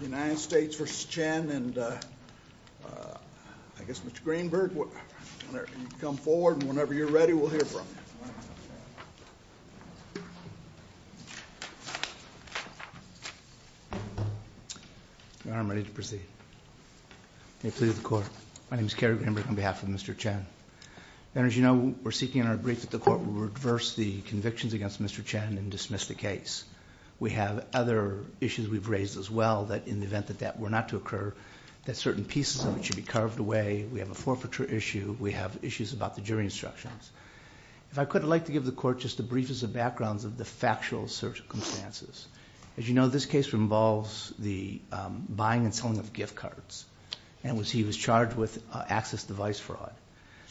United States v. Chen and I guess Mr. Greenberg, come forward and whenever you're ready, we'll hear from you. Your Honor, I'm ready to proceed. May it please the Court. My name is Kerry Greenberg on behalf of Mr. Chen. Your Honor, as you know, we're seeking in our brief that the Court reverse the convictions against Mr. Chen and dismiss the case. We have other issues we've raised as well that in the event that that were not to occur, that certain pieces of it should be carved away. We have a forfeiture issue. We have issues about the jury instructions. If I could, I'd like to give the Court just a brief of the backgrounds of the factual circumstances. As you know, this case involves the buying and selling of gift cards. And he was charged with access device fraud.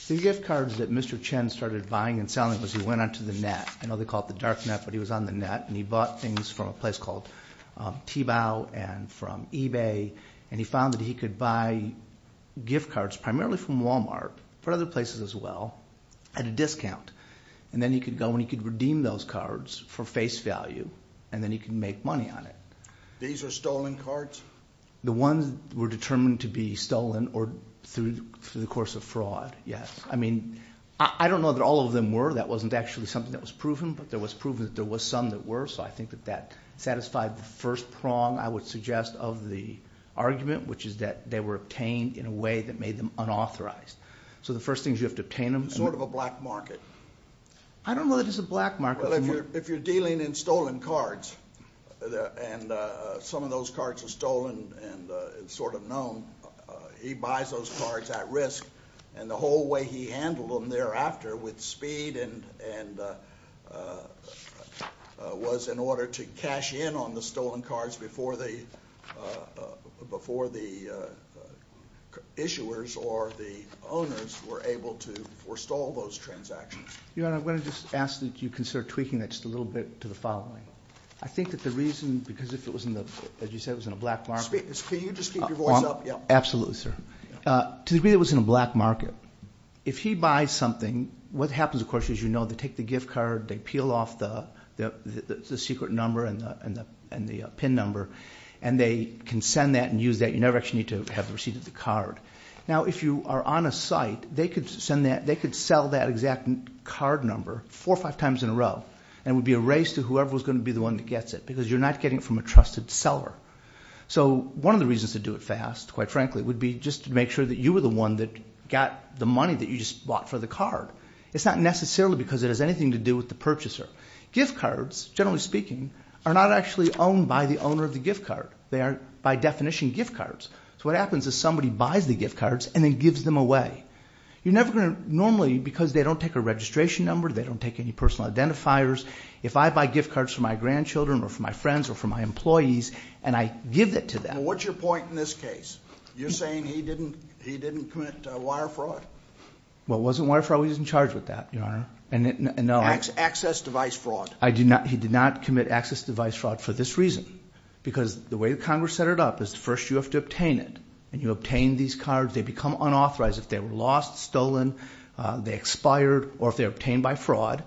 The gift cards that Mr. Chen started buying and selling was he went onto the net. I know they call it the dark net, but he was on the net and he bought things from a place called T-Bow and from eBay. And he found that he could buy gift cards primarily from Walmart, but other places as well, at a discount. And then he could go and he could redeem those cards for face value and then he could make money on it. These are stolen cards? The ones that were determined to be stolen or through the course of fraud, yes. I mean, I don't know that all of them were. That wasn't actually something that was proven, but there was proof that there was some that were. So I think that that satisfied the first prong, I would suggest, of the argument, which is that they were obtained in a way that made them unauthorized. So the first thing is you have to obtain them. It's sort of a black market. I don't know that it's a black market. Well, if you're dealing in stolen cards and some of those cards are stolen and sort of known, he buys those cards at risk. And the whole way he handled them thereafter with speed and was in order to cash in on the stolen cards before the issuers or the owners were able to forestall those transactions. Your Honor, I'm going to just ask that you consider tweaking that just a little bit to the following. I think that the reason, because as you said, it was in a black market. Can you just keep your voice up? Absolutely, sir. To the degree that it was in a black market, if he buys something, what happens, of course, as you know, they take the gift card, they peel off the secret number and the PIN number, and they can send that and use that. You never actually need to have the receipt of the card. Now, if you are on a site, they could sell that exact card number four or five times in a row, and it would be a race to whoever was going to be the one that gets it because you're not getting it from a trusted seller. So one of the reasons to do it fast, quite frankly, would be just to make sure that you were the one that got the money that you just bought for the card. It's not necessarily because it has anything to do with the purchaser. Gift cards, generally speaking, are not actually owned by the owner of the gift card. They are, by definition, gift cards. So what happens is somebody buys the gift cards and then gives them away. You're never going to normally, because they don't take a registration number, they don't take any personal identifiers, if I buy gift cards for my grandchildren or for my friends or for my employees and I give it to them. Well, what's your point in this case? You're saying he didn't commit wire fraud. Well, it wasn't wire fraud. He was in charge with that, Your Honor. Access device fraud. He did not commit access device fraud for this reason, because the way Congress set it up is first you have to obtain it. And you obtain these cards. They become unauthorized if they were lost, stolen, they expired, or if they're obtained by fraud.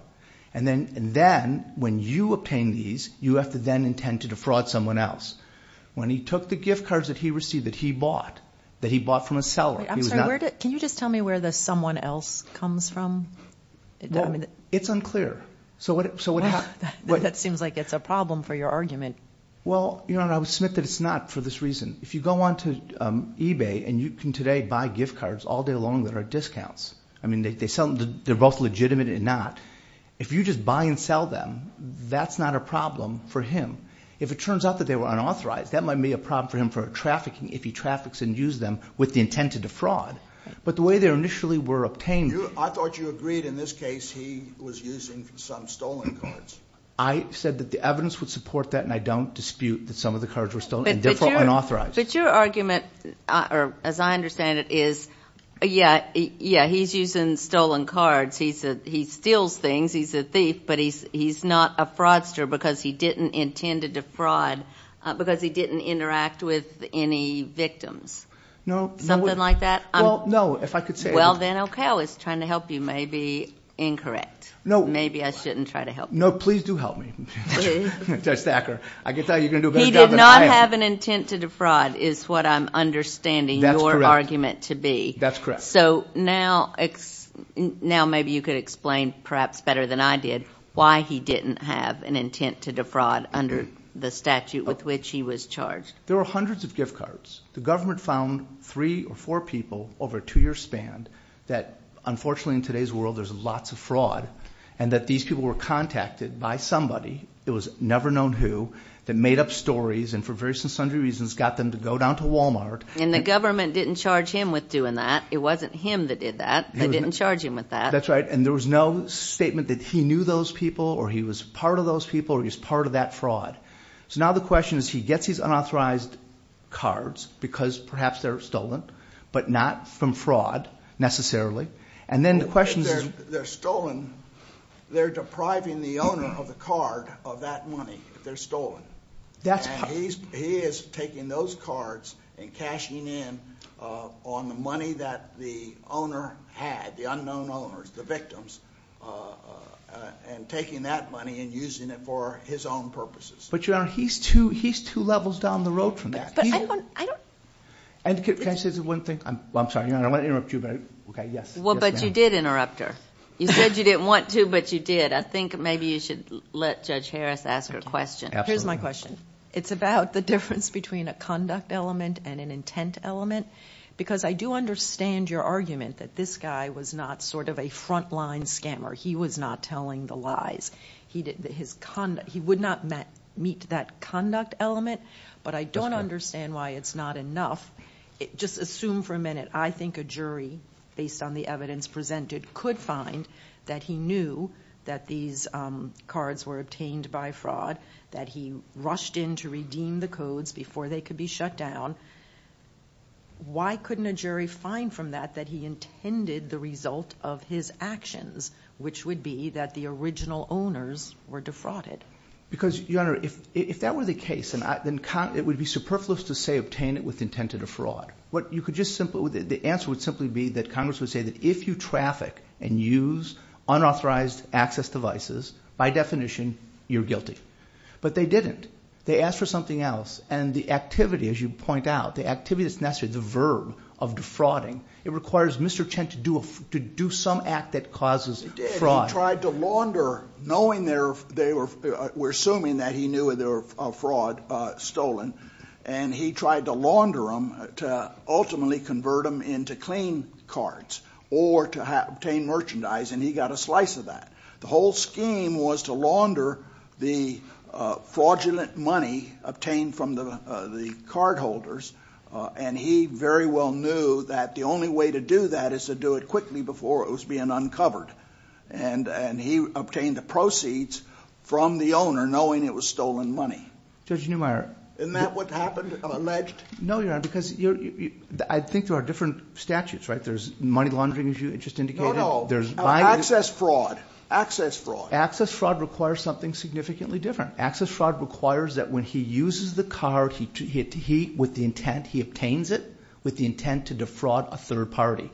And then when you obtain these, you have to then intend to defraud someone else. When he took the gift cards that he received, that he bought, that he bought from a seller. I'm sorry. Can you just tell me where the someone else comes from? It's unclear. That seems like it's a problem for your argument. Well, Your Honor, I would submit that it's not for this reason. If you go onto eBay, and you can today buy gift cards all day long that are discounts. I mean, they're both legitimate and not. If you just buy and sell them, that's not a problem for him. If it turns out that they were unauthorized, that might be a problem for him for trafficking, if he traffics and uses them with the intent to defraud. But the way they initially were obtained. I thought you agreed in this case he was using some stolen cards. I said that the evidence would support that, and I don't dispute that some of the cards were stolen and therefore unauthorized. But your argument, as I understand it, is, yeah, he's using stolen cards. He steals things. He's a thief, but he's not a fraudster because he didn't intend to defraud, because he didn't interact with any victims. No. Something like that? Well, no. If I could say it. Well, then, okay. I was trying to help you. Maybe incorrect. No. Maybe I shouldn't try to help you. No, please do help me, Judge Thacker. I can tell you're going to do a better job than I am. He did not have an intent to defraud is what I'm understanding your argument to be. That's correct. So now maybe you could explain, perhaps better than I did, why he didn't have an intent to defraud under the statute with which he was charged. There were hundreds of gift cards. The government found three or four people over a two-year span that unfortunately in today's world there's lots of fraud and that these people were contacted by somebody, it was never known who, that made up stories and for various and sundry reasons got them to go down to Walmart. And the government didn't charge him with doing that. It wasn't him that did that. They didn't charge him with that. That's right. And there was no statement that he knew those people or he was part of those people or he was part of that fraud. So now the question is he gets these unauthorized cards because perhaps they're stolen but not from fraud necessarily. And then the question is... If they're stolen, they're depriving the owner of the card of that money if they're stolen. And he is taking those cards and cashing in on the money that the owner had, the unknown owners, the victims, and taking that money and using it for his own purposes. But, Your Honor, he's two levels down the road from that. But I don't... And can I say one thing? I'm sorry, Your Honor, I don't want to interrupt you but... Well, but you did interrupt her. You said you didn't want to but you did. I think maybe you should let Judge Harris ask her question. Here's my question. It's about the difference between a conduct element and an intent element because I do understand your argument that this guy was not sort of a front line scammer. He was not telling the lies. He would not meet that conduct element but I don't understand why it's not enough. Just assume for a minute. I think a jury, based on the evidence presented, could find that he knew that these cards were obtained by fraud, that he rushed in to redeem the codes before they could be shut down. Why couldn't a jury find from that that he intended the result of his actions, which would be that the original owners were defrauded? Because, Your Honor, if that were the case, then it would be superfluous to say obtain it with intent to defraud. The answer would simply be that Congress would say that if you traffic and use unauthorized access devices, by definition, you're guilty. But they didn't. They asked for something else. And the activity, as you point out, the activity that's necessary, the verb of defrauding, it requires Mr. Chen to do some act that causes fraud. He did. He tried to launder, knowing they were assuming that he knew they were fraud, stolen, and he tried to launder them to ultimately convert them into clean cards or to obtain merchandise, and he got a slice of that. The whole scheme was to launder the fraudulent money obtained from the cardholders, and he very well knew that the only way to do that is to do it quickly before it was being uncovered. And he obtained the proceeds from the owner, knowing it was stolen money. Judge Neumeier. Isn't that what happened, alleged? No, Your Honor, because I think there are different statutes, right? There's money laundering, as you just indicated. No, no. Access fraud. Access fraud. Access fraud requires something significantly different. Access fraud requires that when he uses the card, with the intent he obtains it, with the intent to defraud a third party.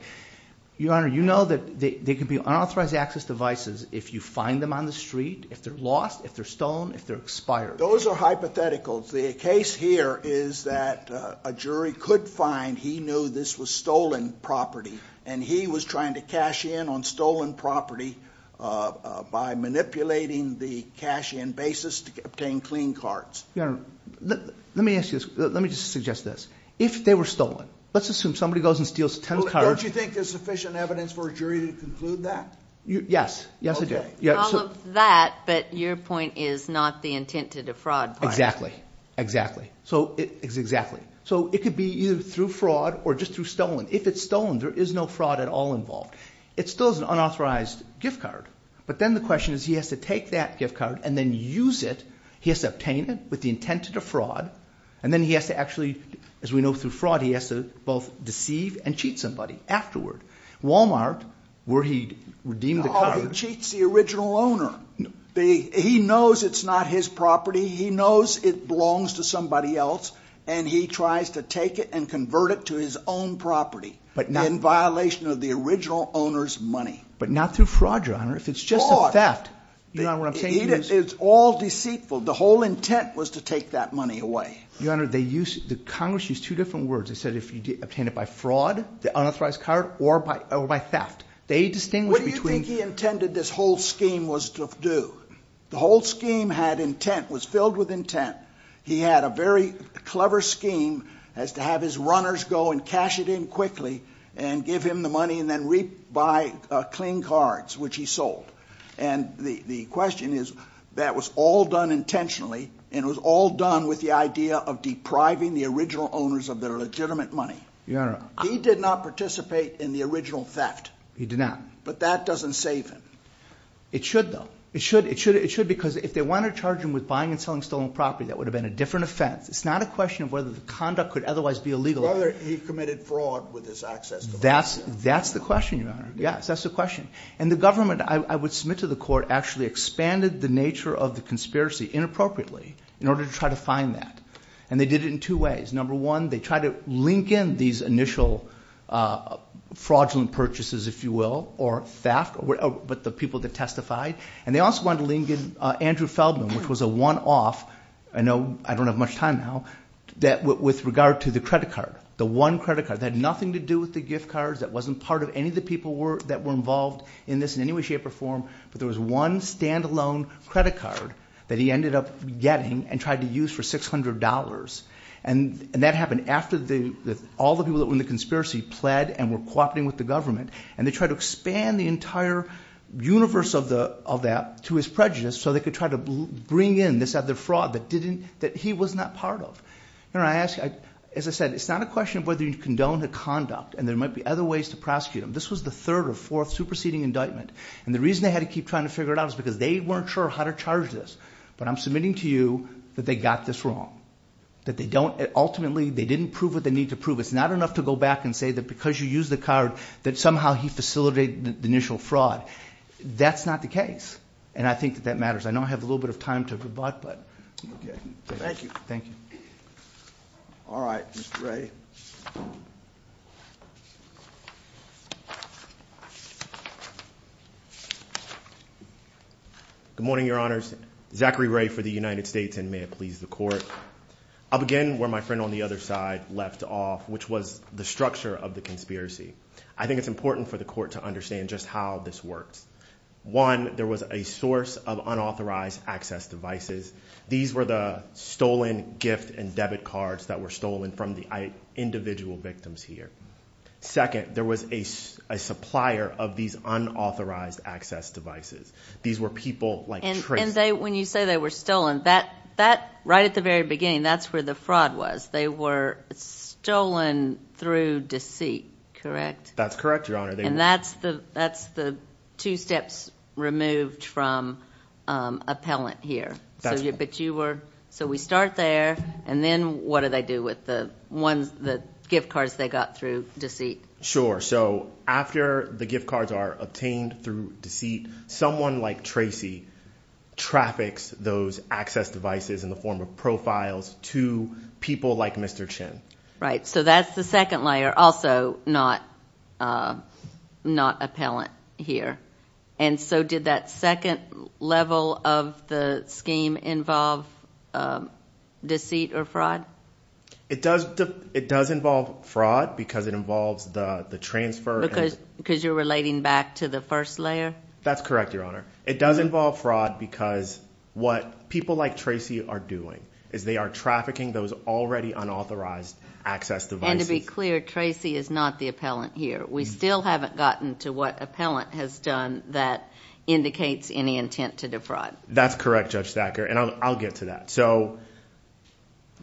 Your Honor, you know that they can be unauthorized access devices if you find them on the street, if they're lost, if they're stolen, if they're expired. Those are hypotheticals. The case here is that a jury could find he knew this was stolen property, and he was trying to cash in on stolen property by manipulating the cash-in basis to obtain clean cards. Your Honor, let me ask you this. Let me just suggest this. If they were stolen, let's assume somebody goes and steals 10 cards. Don't you think there's sufficient evidence for a jury to conclude that? Yes. Yes, I do. Okay. All of that, but your point is not the intent to defraud parties. Exactly. Exactly. Exactly. So it could be either through fraud or just through stolen. If it's stolen, there is no fraud at all involved. It still is an unauthorized gift card, but then the question is he has to take that gift card and then use it. He has to obtain it with the intent to defraud, and then he has to actually, as we know, through fraud, he has to both deceive and cheat somebody afterward. Walmart, where he redeemed the card. No, he cheats the original owner. He knows it's not his property. He knows it belongs to somebody else, and he tries to take it and convert it to his own property in violation of the original owner's money. But not through fraud, Your Honor. If it's just a theft, Your Honor, what I'm saying is— It's all deceitful. The whole intent was to take that money away. Your Honor, the Congress used two different words. They said if you obtain it by fraud, the unauthorized card, or by theft, they distinguish between— What do you think he intended this whole scheme was to do? The whole scheme had intent, was filled with intent. He had a very clever scheme as to have his runners go and cash it in quickly and give him the money and then buy clean cards, which he sold. And the question is that was all done intentionally, and it was all done with the idea of depriving the original owners of their legitimate money. Your Honor— He did not participate in the original theft. He did not. But that doesn't save him. It should, though. It should because if they wanted to charge him with buying and selling stolen property, that would have been a different offense. It's not a question of whether the conduct could otherwise be illegal. Whether he committed fraud with his access to the money. That's the question, Your Honor. Yes, that's the question. And the government, I would submit to the court, actually expanded the nature of the conspiracy inappropriately in order to try to find that. And they did it in two ways. Number one, they tried to link in these initial fraudulent purchases, if you will, or theft. But the people that testified. And they also wanted to link in Andrew Feldman, which was a one-off—I don't have much time now—with regard to the credit card. The one credit card that had nothing to do with the gift cards, that wasn't part of any of the people that were involved in this in any way, shape, or form. But there was one standalone credit card that he ended up getting and tried to use for $600. And that happened after all the people that were in the conspiracy pled and were cooperating with the government. And they tried to expand the entire universe of that to his prejudice so they could try to bring in this other fraud that he was not part of. Your Honor, as I said, it's not a question of whether you condone the conduct and there might be other ways to prosecute him. This was the third or fourth superseding indictment. And the reason they had to keep trying to figure it out is because they weren't sure how to charge this. But I'm submitting to you that they got this wrong. That they don't—ultimately, they didn't prove what they need to prove. It's not enough to go back and say that because you used the card that somehow he facilitated the initial fraud. That's not the case. And I think that that matters. I know I have a little bit of time to rebut, but. Thank you. Thank you. All right. Mr. Ray. Good morning, Your Honors. Zachary Ray for the United States, and may it please the Court. I'll begin where my friend on the other side left off, which was the structure of the conspiracy. I think it's important for the Court to understand just how this works. One, there was a source of unauthorized access devices. These were the stolen gift and debit cards that were stolen from the individual victims here. Second, there was a supplier of these unauthorized access devices. These were people like trace— And when you say they were stolen, right at the very beginning, that's where the fraud was. They were stolen through deceit, correct? That's correct, Your Honor. And that's the two steps removed from appellant here. But you were—so we start there, and then what do they do with the ones, the gift cards they got through deceit? Sure. So after the gift cards are obtained through deceit, someone like Tracy traffics those access devices in the form of profiles to people like Mr. Chin. Right. So that's the second layer, also not appellant here. And so did that second level of the scheme involve deceit or fraud? It does involve fraud because it involves the transfer— Because you're relating back to the first layer? That's correct, Your Honor. It does involve fraud because what people like Tracy are doing is they are trafficking those already unauthorized access devices. And to be clear, Tracy is not the appellant here. We still haven't gotten to what appellant has done that indicates any intent to defraud. That's correct, Judge Thacker, and I'll get to that. So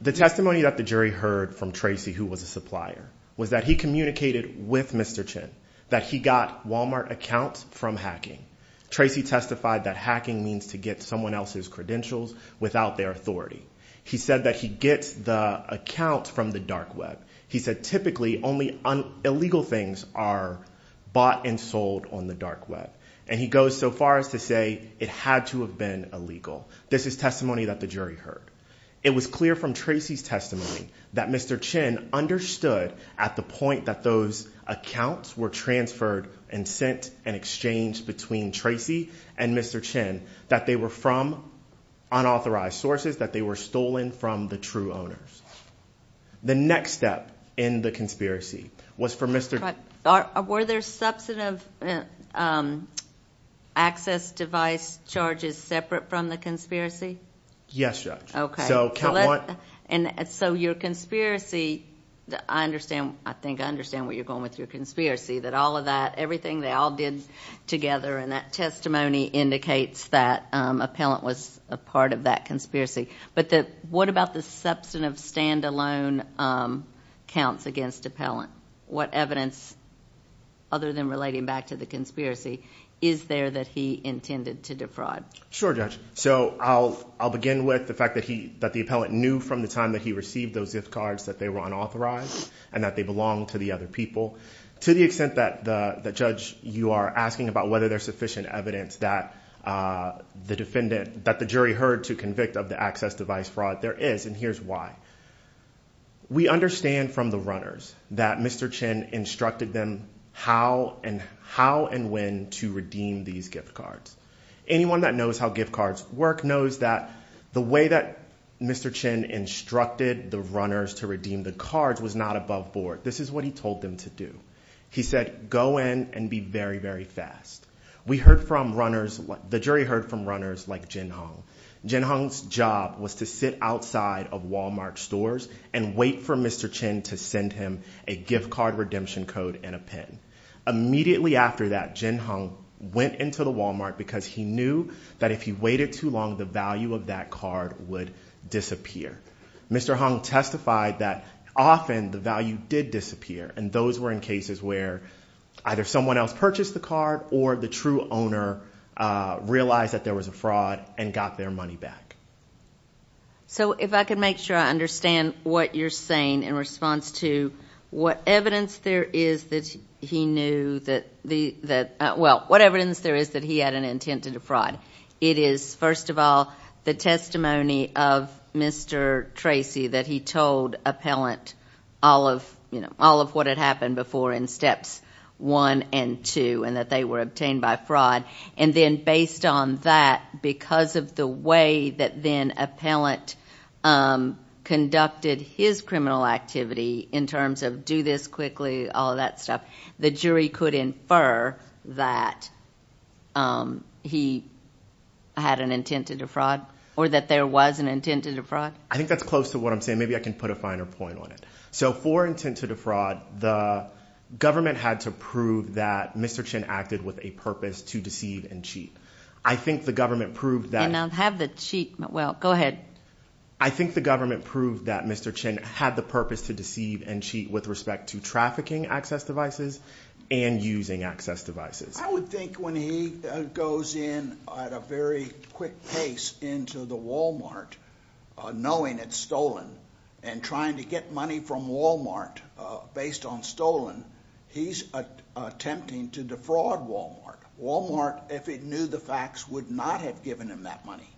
the testimony that the jury heard from Tracy, who was a supplier, was that he communicated with Mr. Chin that he got Walmart accounts from hacking. Tracy testified that hacking means to get someone else's credentials without their authority. He said that he gets the accounts from the dark web. He said typically only illegal things are bought and sold on the dark web, and he goes so far as to say it had to have been illegal. This is testimony that the jury heard. It was clear from Tracy's testimony that Mr. Chin understood at the point that those accounts were transferred and sent and exchanged between Tracy and Mr. Chin that they were from unauthorized sources, that they were stolen from the true owners. The next step in the conspiracy was for Mr.... Were there substantive access device charges separate from the conspiracy? Yes, Judge. Okay. So count one... So your conspiracy, I think I understand where you're going with your conspiracy, that all of that, everything they all did together, and that testimony indicates that appellant was a part of that conspiracy. But what about the substantive stand-alone counts against appellant? What evidence, other than relating back to the conspiracy, is there that he intended to defraud? Sure, Judge. So I'll begin with the fact that the appellant knew from the time that he received those ZIP cards that they were unauthorized and that they belonged to the other people. So to the extent that, Judge, you are asking about whether there's sufficient evidence that the jury heard to convict of the access device fraud, there is, and here's why. We understand from the runners that Mr. Chin instructed them how and when to redeem these gift cards. Anyone that knows how gift cards work knows that the way that Mr. Chin instructed the runners to redeem the cards was not above board. This is what he told them to do. He said, go in and be very, very fast. We heard from runners, the jury heard from runners like Jin Hong. Jin Hong's job was to sit outside of Wal-Mart stores and wait for Mr. Chin to send him a gift card redemption code and a pen. Immediately after that, Jin Hong went into the Wal-Mart because he knew that if he waited too long, the value of that card would disappear. Mr. Hong testified that often the value did disappear, and those were in cases where either someone else purchased the card or the true owner realized that there was a fraud and got their money back. So if I could make sure I understand what you're saying in response to what evidence there is that he knew that the – well, what evidence there is that he had an intent to defraud. It is, first of all, the testimony of Mr. Tracy that he told appellant all of what had happened before in steps one and two and that they were obtained by fraud. And then based on that, because of the way that then appellant conducted his criminal activity in terms of do this quickly, all of that stuff, the jury could infer that he had an intent to defraud or that there was an intent to defraud? I think that's close to what I'm saying. Maybe I can put a finer point on it. So for intent to defraud, the government had to prove that Mr. Chin acted with a purpose to deceive and cheat. I think the government proved that – And not have the cheat – well, go ahead. I think the government proved that Mr. Chin had the purpose to deceive and cheat with respect to trafficking access devices and using access devices. I would think when he goes in at a very quick pace into the Walmart knowing it's stolen and trying to get money from Walmart based on stolen, he's attempting to defraud Walmart. Walmart, if it knew the facts, would not have given him that money.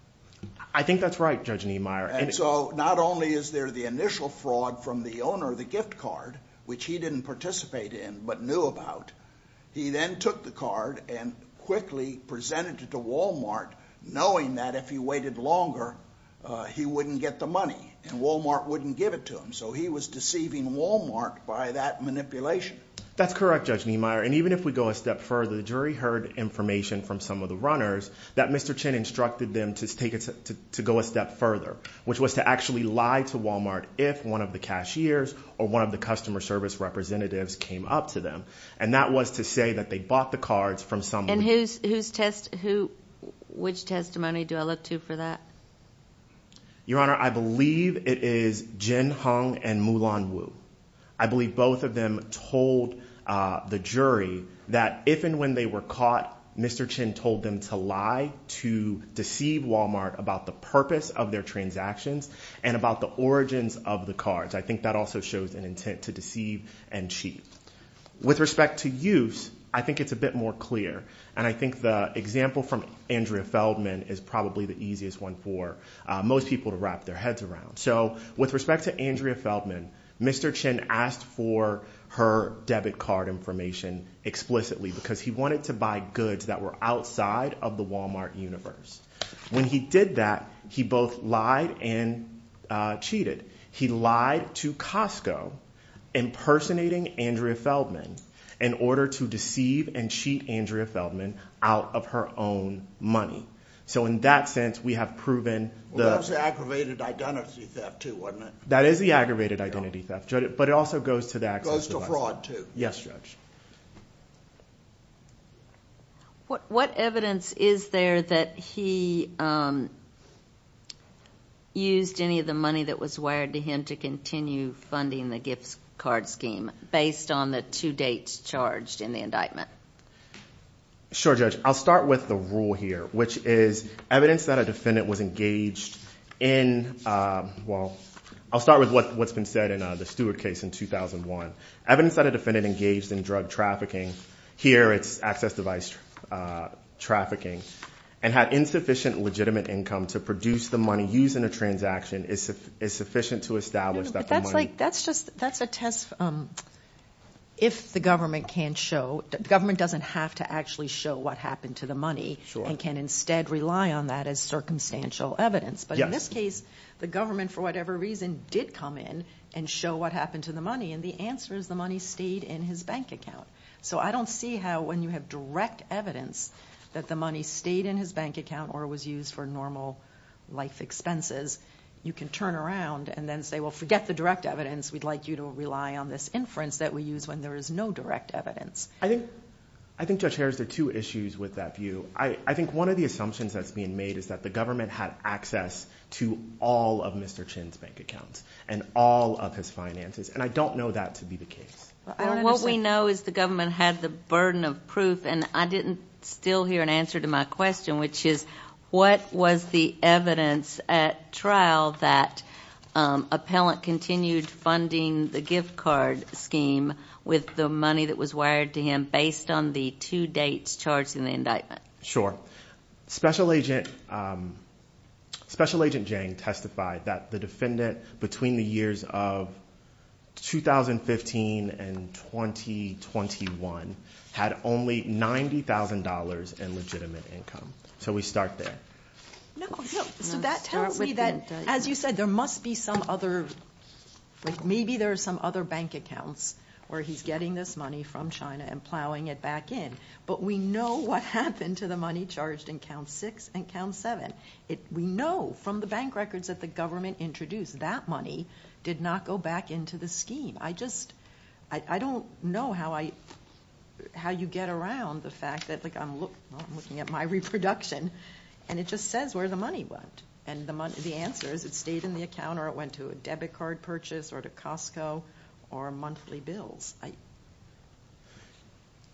I think that's right, Judge Niemeyer. And so not only is there the initial fraud from the owner of the gift card, which he didn't participate in but knew about, he then took the card and quickly presented it to Walmart knowing that if he waited longer, he wouldn't get the money, and Walmart wouldn't give it to him. So he was deceiving Walmart by that manipulation. That's correct, Judge Niemeyer. And even if we go a step further, the jury heard information from some of the runners that Mr. Chin instructed them to go a step further, which was to actually lie to Walmart if one of the cashiers or one of the customer service representatives came up to them. And that was to say that they bought the cards from someone – And whose – which testimony do I look to for that? Your Honor, I believe it is Jen Hung and Mulan Wu. I believe both of them told the jury that if and when they were caught, Mr. Chin told them to lie to deceive Walmart about the purpose of their transactions and about the origins of the cards. I think that also shows an intent to deceive and cheat. With respect to use, I think it's a bit more clear, and I think the example from Andrea Feldman is probably the easiest one for most people to wrap their heads around. So with respect to Andrea Feldman, Mr. Chin asked for her debit card information explicitly because he wanted to buy goods that were outside of the Walmart universe. When he did that, he both lied and cheated. He lied to Costco impersonating Andrea Feldman in order to deceive and cheat Andrea Feldman out of her own money. So in that sense, we have proven the – That is the aggravated identity theft. But it also goes to the – It goes to fraud too. Yes, Judge. What evidence is there that he used any of the money that was wired to him to continue funding the gift card scheme based on the two dates charged in the indictment? Sure, Judge. I'll start with the rule here, which is evidence that a defendant was engaged in – Well, I'll start with what's been said in the Stewart case in 2001. Evidence that a defendant engaged in drug trafficking – here it's access device trafficking – and had insufficient legitimate income to produce the money used in a transaction is sufficient to establish that the money – Sure. And can instead rely on that as circumstantial evidence. Yes. But in this case, the government, for whatever reason, did come in and show what happened to the money, and the answer is the money stayed in his bank account. So I don't see how when you have direct evidence that the money stayed in his bank account or was used for normal life expenses, you can turn around and then say, well, forget the direct evidence. We'd like you to rely on this inference that we use when there is no direct evidence. I think, Judge Harris, there are two issues with that view. I think one of the assumptions that's being made is that the government had access to all of Mr. Chin's bank accounts and all of his finances, and I don't know that to be the case. What we know is the government had the burden of proof, and I didn't still hear an answer to my question, which is, what was the evidence at trial that appellant continued funding the gift card scheme with the money that was wired to him based on the two dates charged in the indictment? Sure. Special Agent Jang testified that the defendant, between the years of 2015 and 2021, had only $90,000 in legitimate income. So we start there. No, no. So that tells me that, as you said, there must be some other, like maybe there are some other bank accounts where he's getting this money from China and plowing it back in. But we know what happened to the money charged in Count 6 and Count 7. We know from the bank records that the government introduced that money did not go back into the scheme. I don't know how you get around the fact that I'm looking at my reproduction, and it just says where the money went, and the answer is it stayed in the account or it went to a debit card purchase or to Costco or monthly bills.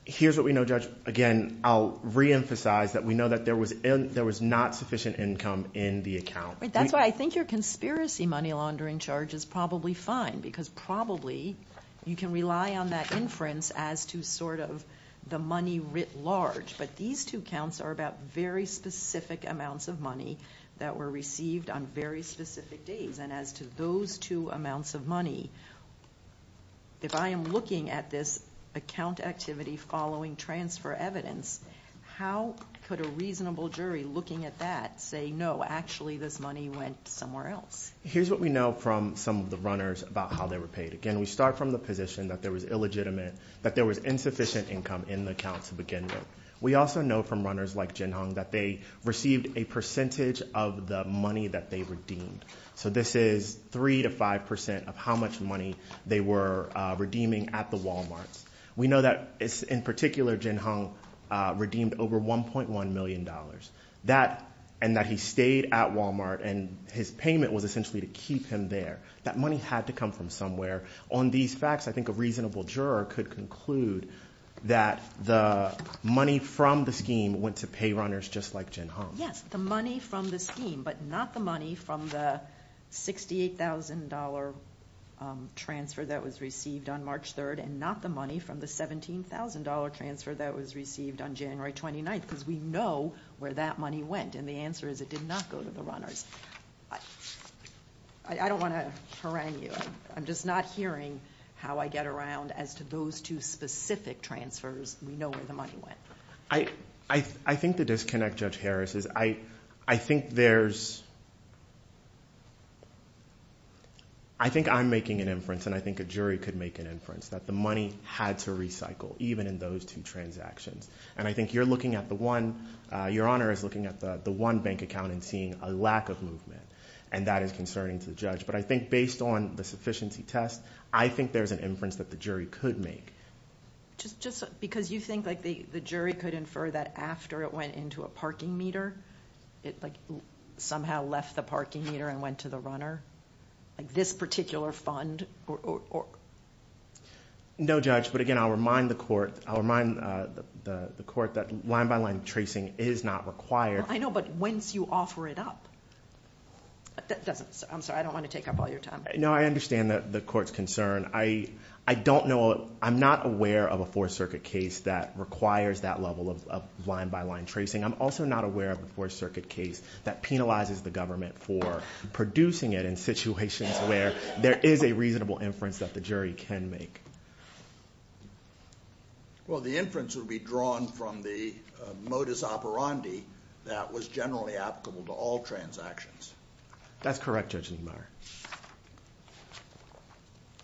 Here's what we know, Judge. Again, I'll reemphasize that we know that there was not sufficient income in the account. That's why I think your conspiracy money laundering charge is probably fine, because probably you can rely on that inference as to sort of the money writ large. But these two counts are about very specific amounts of money that were received on very specific days. And as to those two amounts of money, if I am looking at this account activity following transfer evidence, how could a reasonable jury looking at that say, no, actually this money went somewhere else? Here's what we know from some of the runners about how they were paid. Again, we start from the position that there was illegitimate, that there was insufficient income in the account to begin with. We also know from runners like Jin Hong that they received a percentage of the money that they redeemed. So this is 3% to 5% of how much money they were redeeming at the Walmarts. We know that in particular, Jin Hong redeemed over $1.1 million. And that he stayed at Walmart and his payment was essentially to keep him there. That money had to come from somewhere. On these facts, I think a reasonable juror could conclude that the money from the scheme went to pay runners just like Jin Hong. Yes, the money from the scheme, but not the money from the $68,000 transfer that was received on March 3rd. And not the money from the $17,000 transfer that was received on January 29th. Because we know where that money went. And the answer is it did not go to the runners. I don't want to harangue you. I'm just not hearing how I get around as to those two specific transfers. We know where the money went. I think the disconnect, Judge Harris, is I think there's... I think I'm making an inference and I think a jury could make an inference that the money had to recycle, even in those two transactions. And I think you're looking at the one... Your Honor is looking at the one bank account and seeing a lack of movement. And that is concerning to the judge. But I think based on the sufficiency test, I think there's an inference that the jury could make. Just because you think the jury could infer that after it went into a parking meter, it somehow left the parking meter and went to the runner? Like this particular fund? No, Judge. But again, I'll remind the court. I'll remind the court that line-by-line tracing is not required. I know. But once you offer it up, that doesn't... I'm sorry. I don't want to take up all your time. No, I understand the court's concern. I don't know... I'm not aware of a Fourth Circuit case that requires that level of line-by-line tracing. I'm also not aware of a Fourth Circuit case that penalizes the government for producing it in situations where there is a reasonable inference that the jury can make. Well, the inference would be drawn from the modus operandi that was generally applicable to all transactions. That's correct, Judge Niemeyer.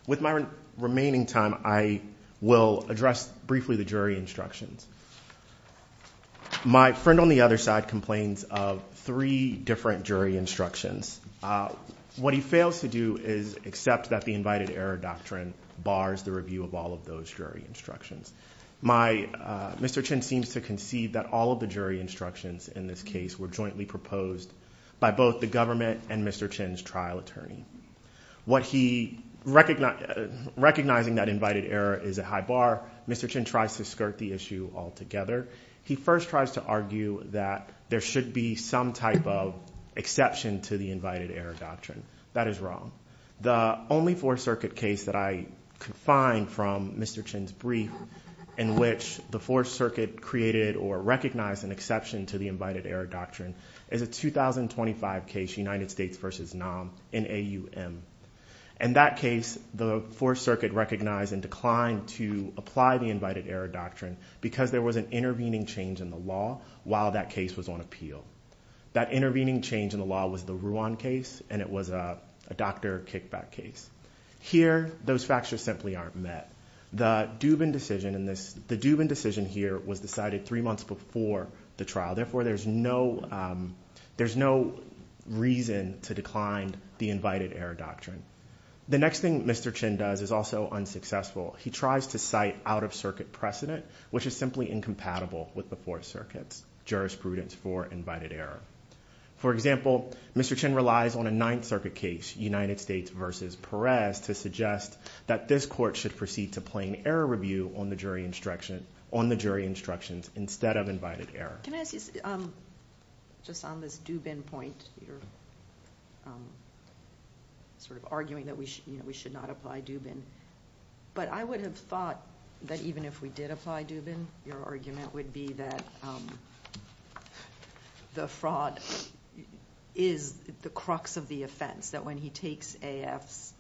With my remaining time, I will address briefly the jury instructions. My friend on the other side complains of three different jury instructions. What he fails to do is accept that the Invited Error Doctrine bars the review of all of those jury instructions. Mr. Chin seems to conceive that all of the jury instructions in this case were jointly proposed by both the government and Mr. Chin's trial attorney. Recognizing that Invited Error is a high bar, Mr. Chin tries to skirt the issue altogether. He first tries to argue that there should be some type of exception to the Invited Error Doctrine. That is wrong. The only Fourth Circuit case that I could find from Mr. Chin's brief in which the Fourth Circuit created or recognized an exception to the Invited Error Doctrine is a 2025 case, United States v. NAM, N-A-U-M. In that case, the Fourth Circuit recognized and declined to apply the Invited Error Doctrine because there was an intervening change in the law while that case was on appeal. That intervening change in the law was the Ruan case, and it was a doctor kickback case. Here, those factors simply aren't met. The Dubin decision here was decided three months before the trial. Therefore, there's no reason to decline the Invited Error Doctrine. The next thing Mr. Chin does is also unsuccessful. He tries to cite out-of-circuit precedent, which is simply incompatible with the Fourth Circuit's jurisprudence for invited error. For example, Mr. Chin relies on a Ninth Circuit case, United States v. Perez, to suggest that this court should proceed to plain error review on the jury instructions instead of invited error. Can I ask you, just on this Dubin point, you're sort of arguing that we should not apply Dubin, but I would have thought that even if we did apply Dubin, your argument would be that the fraud is the crux of the offense, that when he takes AF's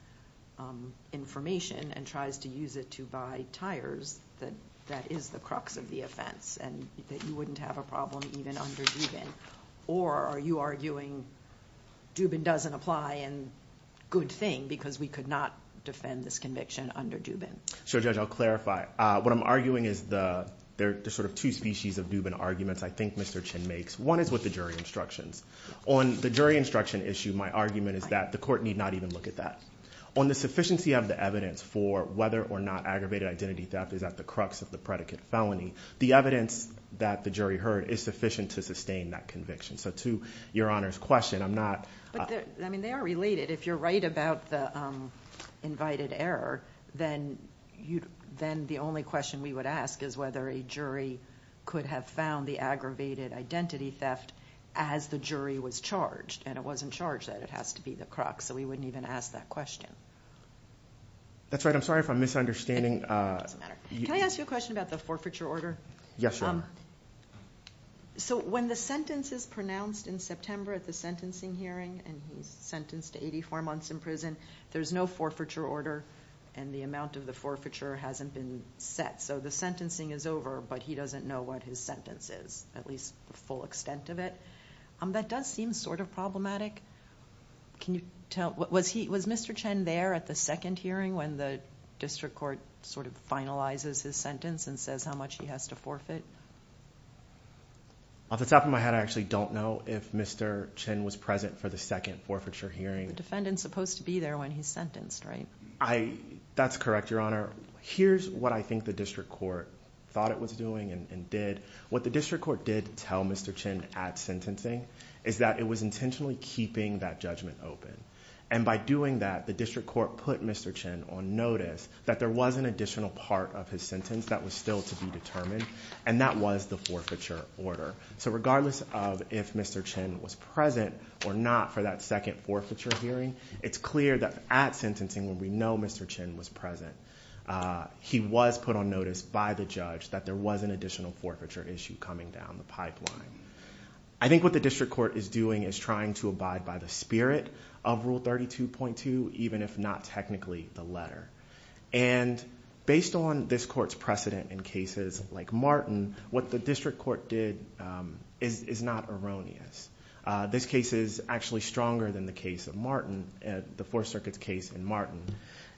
information and tries to use it to buy tires, that that is the crux of the offense, and that you wouldn't have a problem even under Dubin. Or are you arguing Dubin doesn't apply, and good thing, because we could not defend this conviction under Dubin? Sure, Judge, I'll clarify. What I'm arguing is there are sort of two species of Dubin arguments I think Mr. Chin makes. One is with the jury instructions. On the jury instruction issue, my argument is that the court need not even look at that. On the sufficiency of the evidence for whether or not aggravated identity theft is at the crux of the predicate felony, the evidence that the jury heard is sufficient to sustain that conviction. So to Your Honor's question, I'm not- I mean, they are related. If you're right about the invited error, then the only question we would ask is whether a jury could have found the aggravated identity theft as the jury was charged, and it wasn't charged that it has to be the crux, so we wouldn't even ask that question. That's right. I'm sorry if I'm misunderstanding. It doesn't matter. Can I ask you a question about the forfeiture order? Yes, Your Honor. So when the sentence is pronounced in September at the sentencing hearing, and he's sentenced to 84 months in prison, there's no forfeiture order, and the amount of the forfeiture hasn't been set. So the sentencing is over, but he doesn't know what his sentence is, at least the full extent of it. That does seem sort of problematic. Can you tell- was he- was Mr. Chin there at the second hearing when the district court sort of finalizes his sentence and says how much he has to forfeit? Off the top of my head, I actually don't know if Mr. Chin was present for the second forfeiture hearing. The defendant's supposed to be there when he's sentenced, right? That's correct, Your Honor. Here's what I think the district court thought it was doing and did. What the district court did tell Mr. Chin at sentencing is that it was intentionally keeping that judgment open, and by doing that, the district court put Mr. Chin on notice that there was an additional part of his sentence that was still to be determined, and that was the forfeiture order. So regardless of if Mr. Chin was present or not for that second forfeiture hearing, it's clear that at sentencing when we know Mr. Chin was present, he was put on notice by the judge that there was an additional forfeiture issue coming down the pipeline. I think what the district court is doing is trying to abide by the spirit of Rule 32.2, even if not technically the letter. And based on this court's precedent in cases like Martin, what the district court did is not erroneous. This case is actually stronger than the case of Martin, the Fourth Circuit's case in Martin.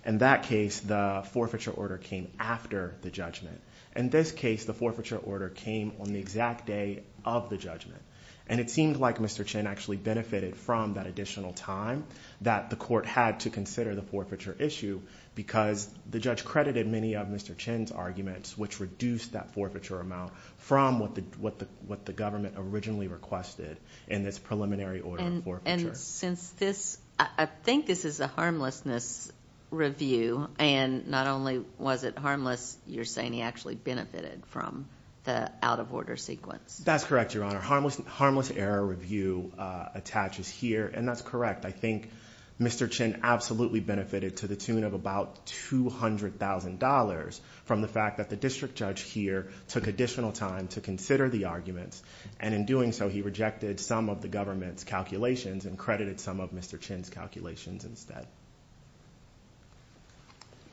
In that case, the forfeiture order came after the judgment. In this case, the forfeiture order came on the exact day of the judgment, and it seemed like Mr. Chin actually benefited from that additional time that the court had to consider the forfeiture issue because the judge credited many of Mr. Chin's arguments, which reduced that forfeiture amount, from what the government originally requested in this preliminary order of forfeiture. And since this, I think this is a harmlessness review, and not only was it harmless, you're saying he actually benefited from the out-of-order sequence. That's correct, Your Honor. Harmless error review attaches here, and that's correct. I think Mr. Chin absolutely benefited to the tune of about $200,000 from the fact that the district judge here took additional time to consider the arguments, and in doing so, he rejected some of the government's calculations and credited some of Mr. Chin's calculations instead.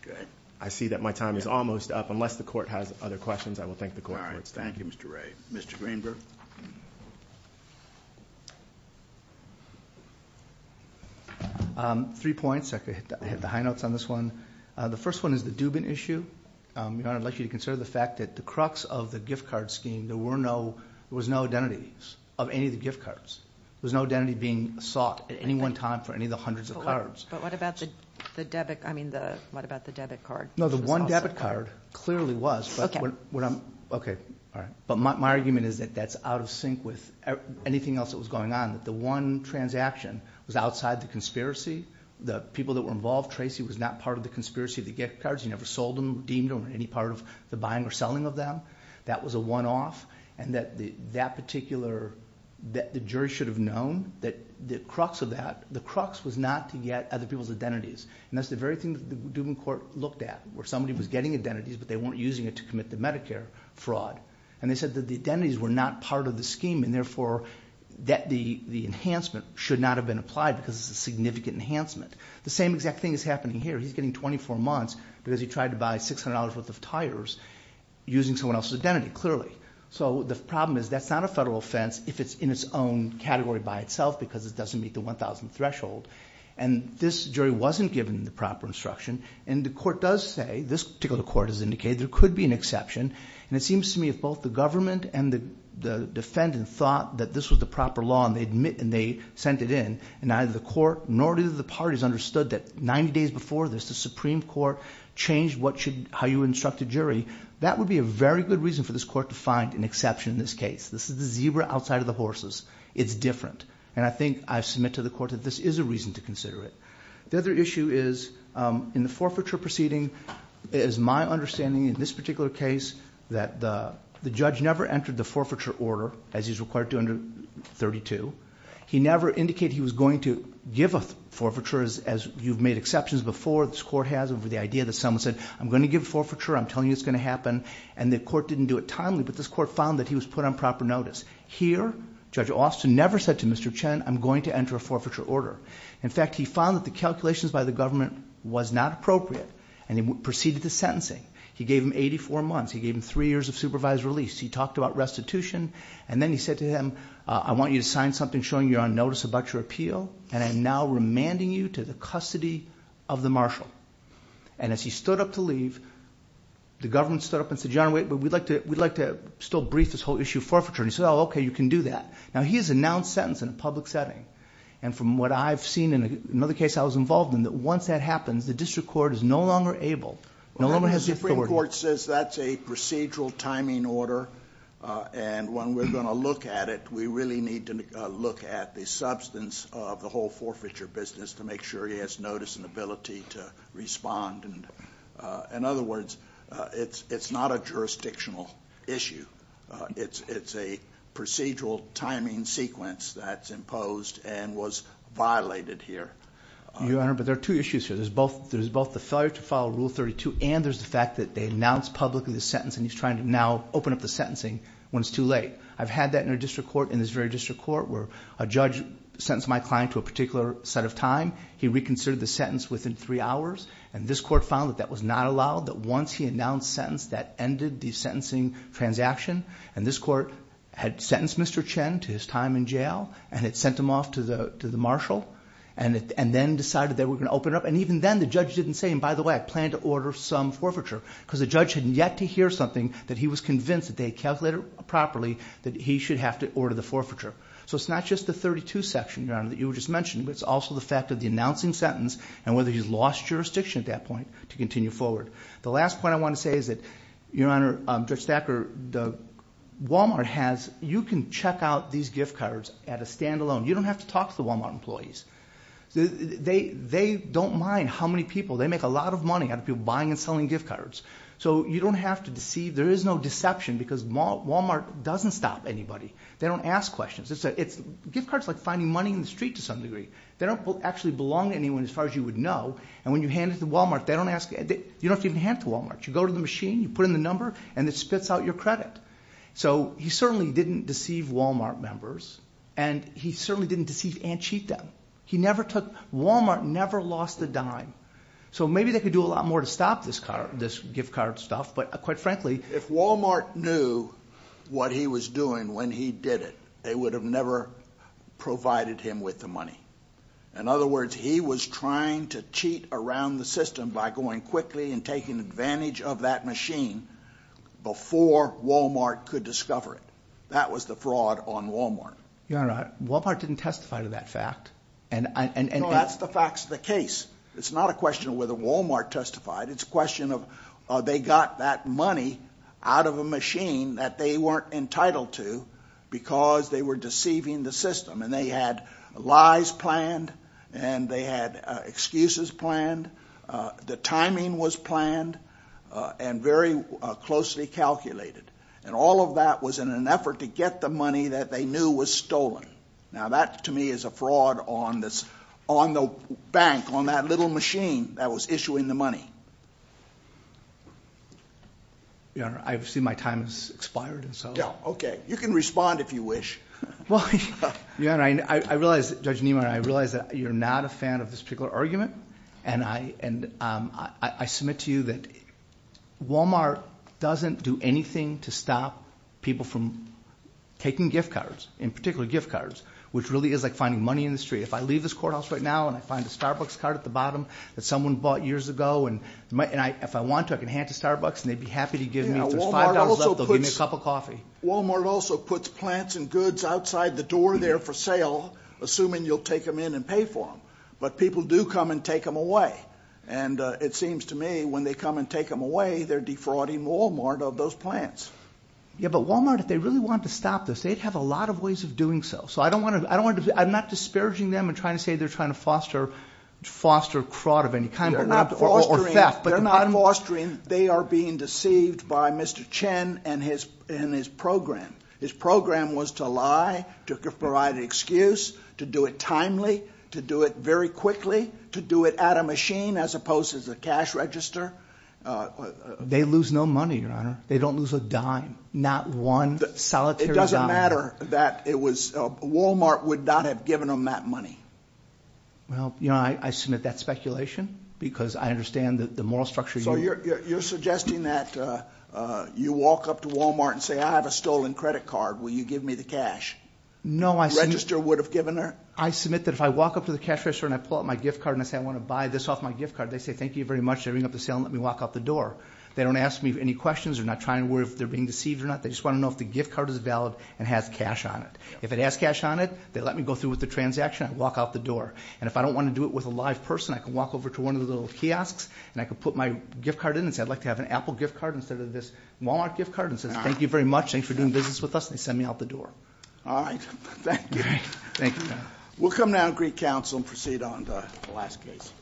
Okay. I see that my time is almost up. Unless the court has other questions, I will thank the court for its time. All right. Thank you, Mr. Ray. Mr. Greenberg. Three points. I could hit the high notes on this one. The first one is the Dubin issue. Your Honor, I'd like you to consider the fact that the crux of the gift card scheme, there was no identity of any of the gift cards. There was no identity being sought at any one time for any of the hundreds of cards. But what about the debit? I mean, what about the debit card? No, the one debit card clearly was. Okay. But my argument is that that's out of sync with anything else that was going on, that the one transaction was outside the conspiracy. The people that were involved, Tracy, was not part of the conspiracy of the gift cards. He never sold them or deemed them any part of the buying or selling of them. That was a one-off. And that that particular, that the jury should have known that the crux of that, the crux was not to get other people's identities. And that's the very thing that the Dubin court looked at, where somebody was getting identities, but they weren't using it to commit the Medicare fraud. And they said that the identities were not part of the scheme, and therefore that the enhancement should not have been applied because it's a significant enhancement. The same exact thing is happening here. He's getting 24 months because he tried to buy $600 worth of tires using someone else's identity, clearly. So the problem is that's not a federal offense if it's in its own category by itself because it doesn't meet the 1,000 threshold. And this jury wasn't given the proper instruction. And the court does say, this particular court has indicated there could be an exception. And it seems to me if both the government and the defendant thought that this was the proper law and they admit and they sent it in, and neither the court nor did the parties understood that 90 days before this, the Supreme Court changed how you instruct a jury, that would be a very good reason for this court to find an exception in this case. This is the zebra outside of the horses. It's different. And I think I submit to the court that this is a reason to consider it. The other issue is in the forfeiture proceeding, it is my understanding in this particular case that the judge never entered the forfeiture order, as he's required to under 32. He never indicated he was going to give a forfeiture, as you've made exceptions before this court has over the idea that someone said, I'm going to give a forfeiture, I'm telling you it's going to happen. And the court didn't do it timely, but this court found that he was put on proper notice. Here, Judge Austin never said to Mr. Chen, I'm going to enter a forfeiture order. In fact, he found that the calculations by the government was not appropriate and he proceeded to sentencing. He gave him 84 months. He gave him three years of supervised release. He talked about restitution, and then he said to him, I want you to sign something showing you're on notice about your appeal, and I'm now remanding you to the custody of the marshal. And as he stood up to leave, the government stood up and said, John, wait, we'd like to still brief this whole issue of forfeiture. And he said, oh, okay, you can do that. Now, he has announced sentence in a public setting, and from what I've seen in another case I was involved in, that once that happens, the district court is no longer able, no longer has the authority. The Supreme Court says that's a procedural timing order, and when we're going to look at it, we really need to look at the substance of the whole forfeiture business to make sure he has notice and ability to respond. In other words, it's not a jurisdictional issue. It's a procedural timing sequence that's imposed and was violated here. Your Honor, but there are two issues here. There's both the failure to follow Rule 32 and there's the fact that they announced publicly the sentence and he's trying to now open up the sentencing when it's too late. I've had that in a district court, in this very district court, where a judge sentenced my client to a particular set of time. He reconsidered the sentence within three hours, and this court found that that was not allowed, that once he announced sentence, that ended the sentencing transaction. And this court had sentenced Mr. Chen to his time in jail, and it sent him off to the marshal, and then decided they were going to open it up, and even then the judge didn't say, and by the way, I plan to order some forfeiture, because the judge had yet to hear something that he was convinced that they calculated properly that he should have to order the forfeiture. So it's not just the 32 section, Your Honor, that you just mentioned, but it's also the fact of the announcing sentence and whether he's lost jurisdiction at that point to continue forward. The last point I want to say is that, Your Honor, Judge Stacker, Walmart has, you can check out these gift cards at a stand-alone. You don't have to talk to the Walmart employees. They don't mind how many people, they make a lot of money out of people buying and selling gift cards. So you don't have to deceive, there is no deception, because Walmart doesn't stop anybody. They don't ask questions. Gift cards are like finding money in the street to some degree. They don't actually belong to anyone as far as you would know, and when you hand it to Walmart, they don't ask, you don't have to even hand it to Walmart. You go to the machine, you put in the number, and it spits out your credit. So he certainly didn't deceive Walmart members, and he certainly didn't deceive and cheat them. He never took, Walmart never lost a dime. So maybe they could do a lot more to stop this gift card stuff, but quite frankly, if Walmart knew what he was doing when he did it, they would have never provided him with the money. In other words, he was trying to cheat around the system by going quickly and taking advantage of that machine before Walmart could discover it. That was the fraud on Walmart. Your Honor, Walmart didn't testify to that fact. No, that's the facts of the case. It's not a question of whether Walmart testified. It's a question of they got that money out of a machine that they weren't entitled to because they were deceiving the system, and they had lies planned, and they had excuses planned. The timing was planned and very closely calculated, and all of that was in an effort to get the money that they knew was stolen. Now that, to me, is a fraud on the bank, on that little machine that was issuing the money. Your Honor, I see my time has expired. Yeah, okay. You can respond if you wish. Your Honor, I realize, Judge Nieman, I realize that you're not a fan of this particular argument, and I submit to you that Walmart doesn't do anything to stop people from taking gift cards, in particular gift cards, which really is like finding money in the street. If I leave this courthouse right now and I find a Starbucks card at the bottom that someone bought years ago, and if I want to, I can hand it to Starbucks, and they'd be happy to give me, if there's $5 left, they'll give me a cup of coffee. Walmart also puts plants and goods outside the door there for sale, assuming you'll take them in and pay for them. But people do come and take them away, and it seems to me when they come and take them away, they're defrauding Walmart of those plants. Yeah, but Walmart, if they really wanted to stop this, they'd have a lot of ways of doing so. So I don't want to, I'm not disparaging them and trying to say they're trying to foster fraud of any kind or theft. They're not fostering. They are being deceived by Mr. Chen and his program. His program was to lie, to provide an excuse, to do it timely, to do it very quickly, to do it at a machine as opposed to a cash register. They lose no money, Your Honor. They don't lose a dime, not one solitary dime. It doesn't matter that it was, Walmart would not have given them that money. Well, you know, I submit that's speculation because I understand the moral structure. So you're suggesting that you walk up to Walmart and say, I have a stolen credit card. Will you give me the cash? No, I submit that if I walk up to the cash register and I pull out my gift card and I say, I want to buy this off my gift card, they say, thank you very much. They ring up the cell and let me walk out the door. They don't ask me any questions. They're not trying to worry if they're being deceived or not. They just want to know if the gift card is valid and has cash on it. If it has cash on it, they let me go through with the transaction. I walk out the door. And if I don't want to do it with a live person, I can walk over to one of the little kiosks and I can put my gift card in and say, I'd like to have an Apple gift card instead of this Walmart gift card and say, thank you very much, thanks for doing business with us, and they send me out the door. All right. Thank you. We'll come down to Greek Council and proceed on the last case.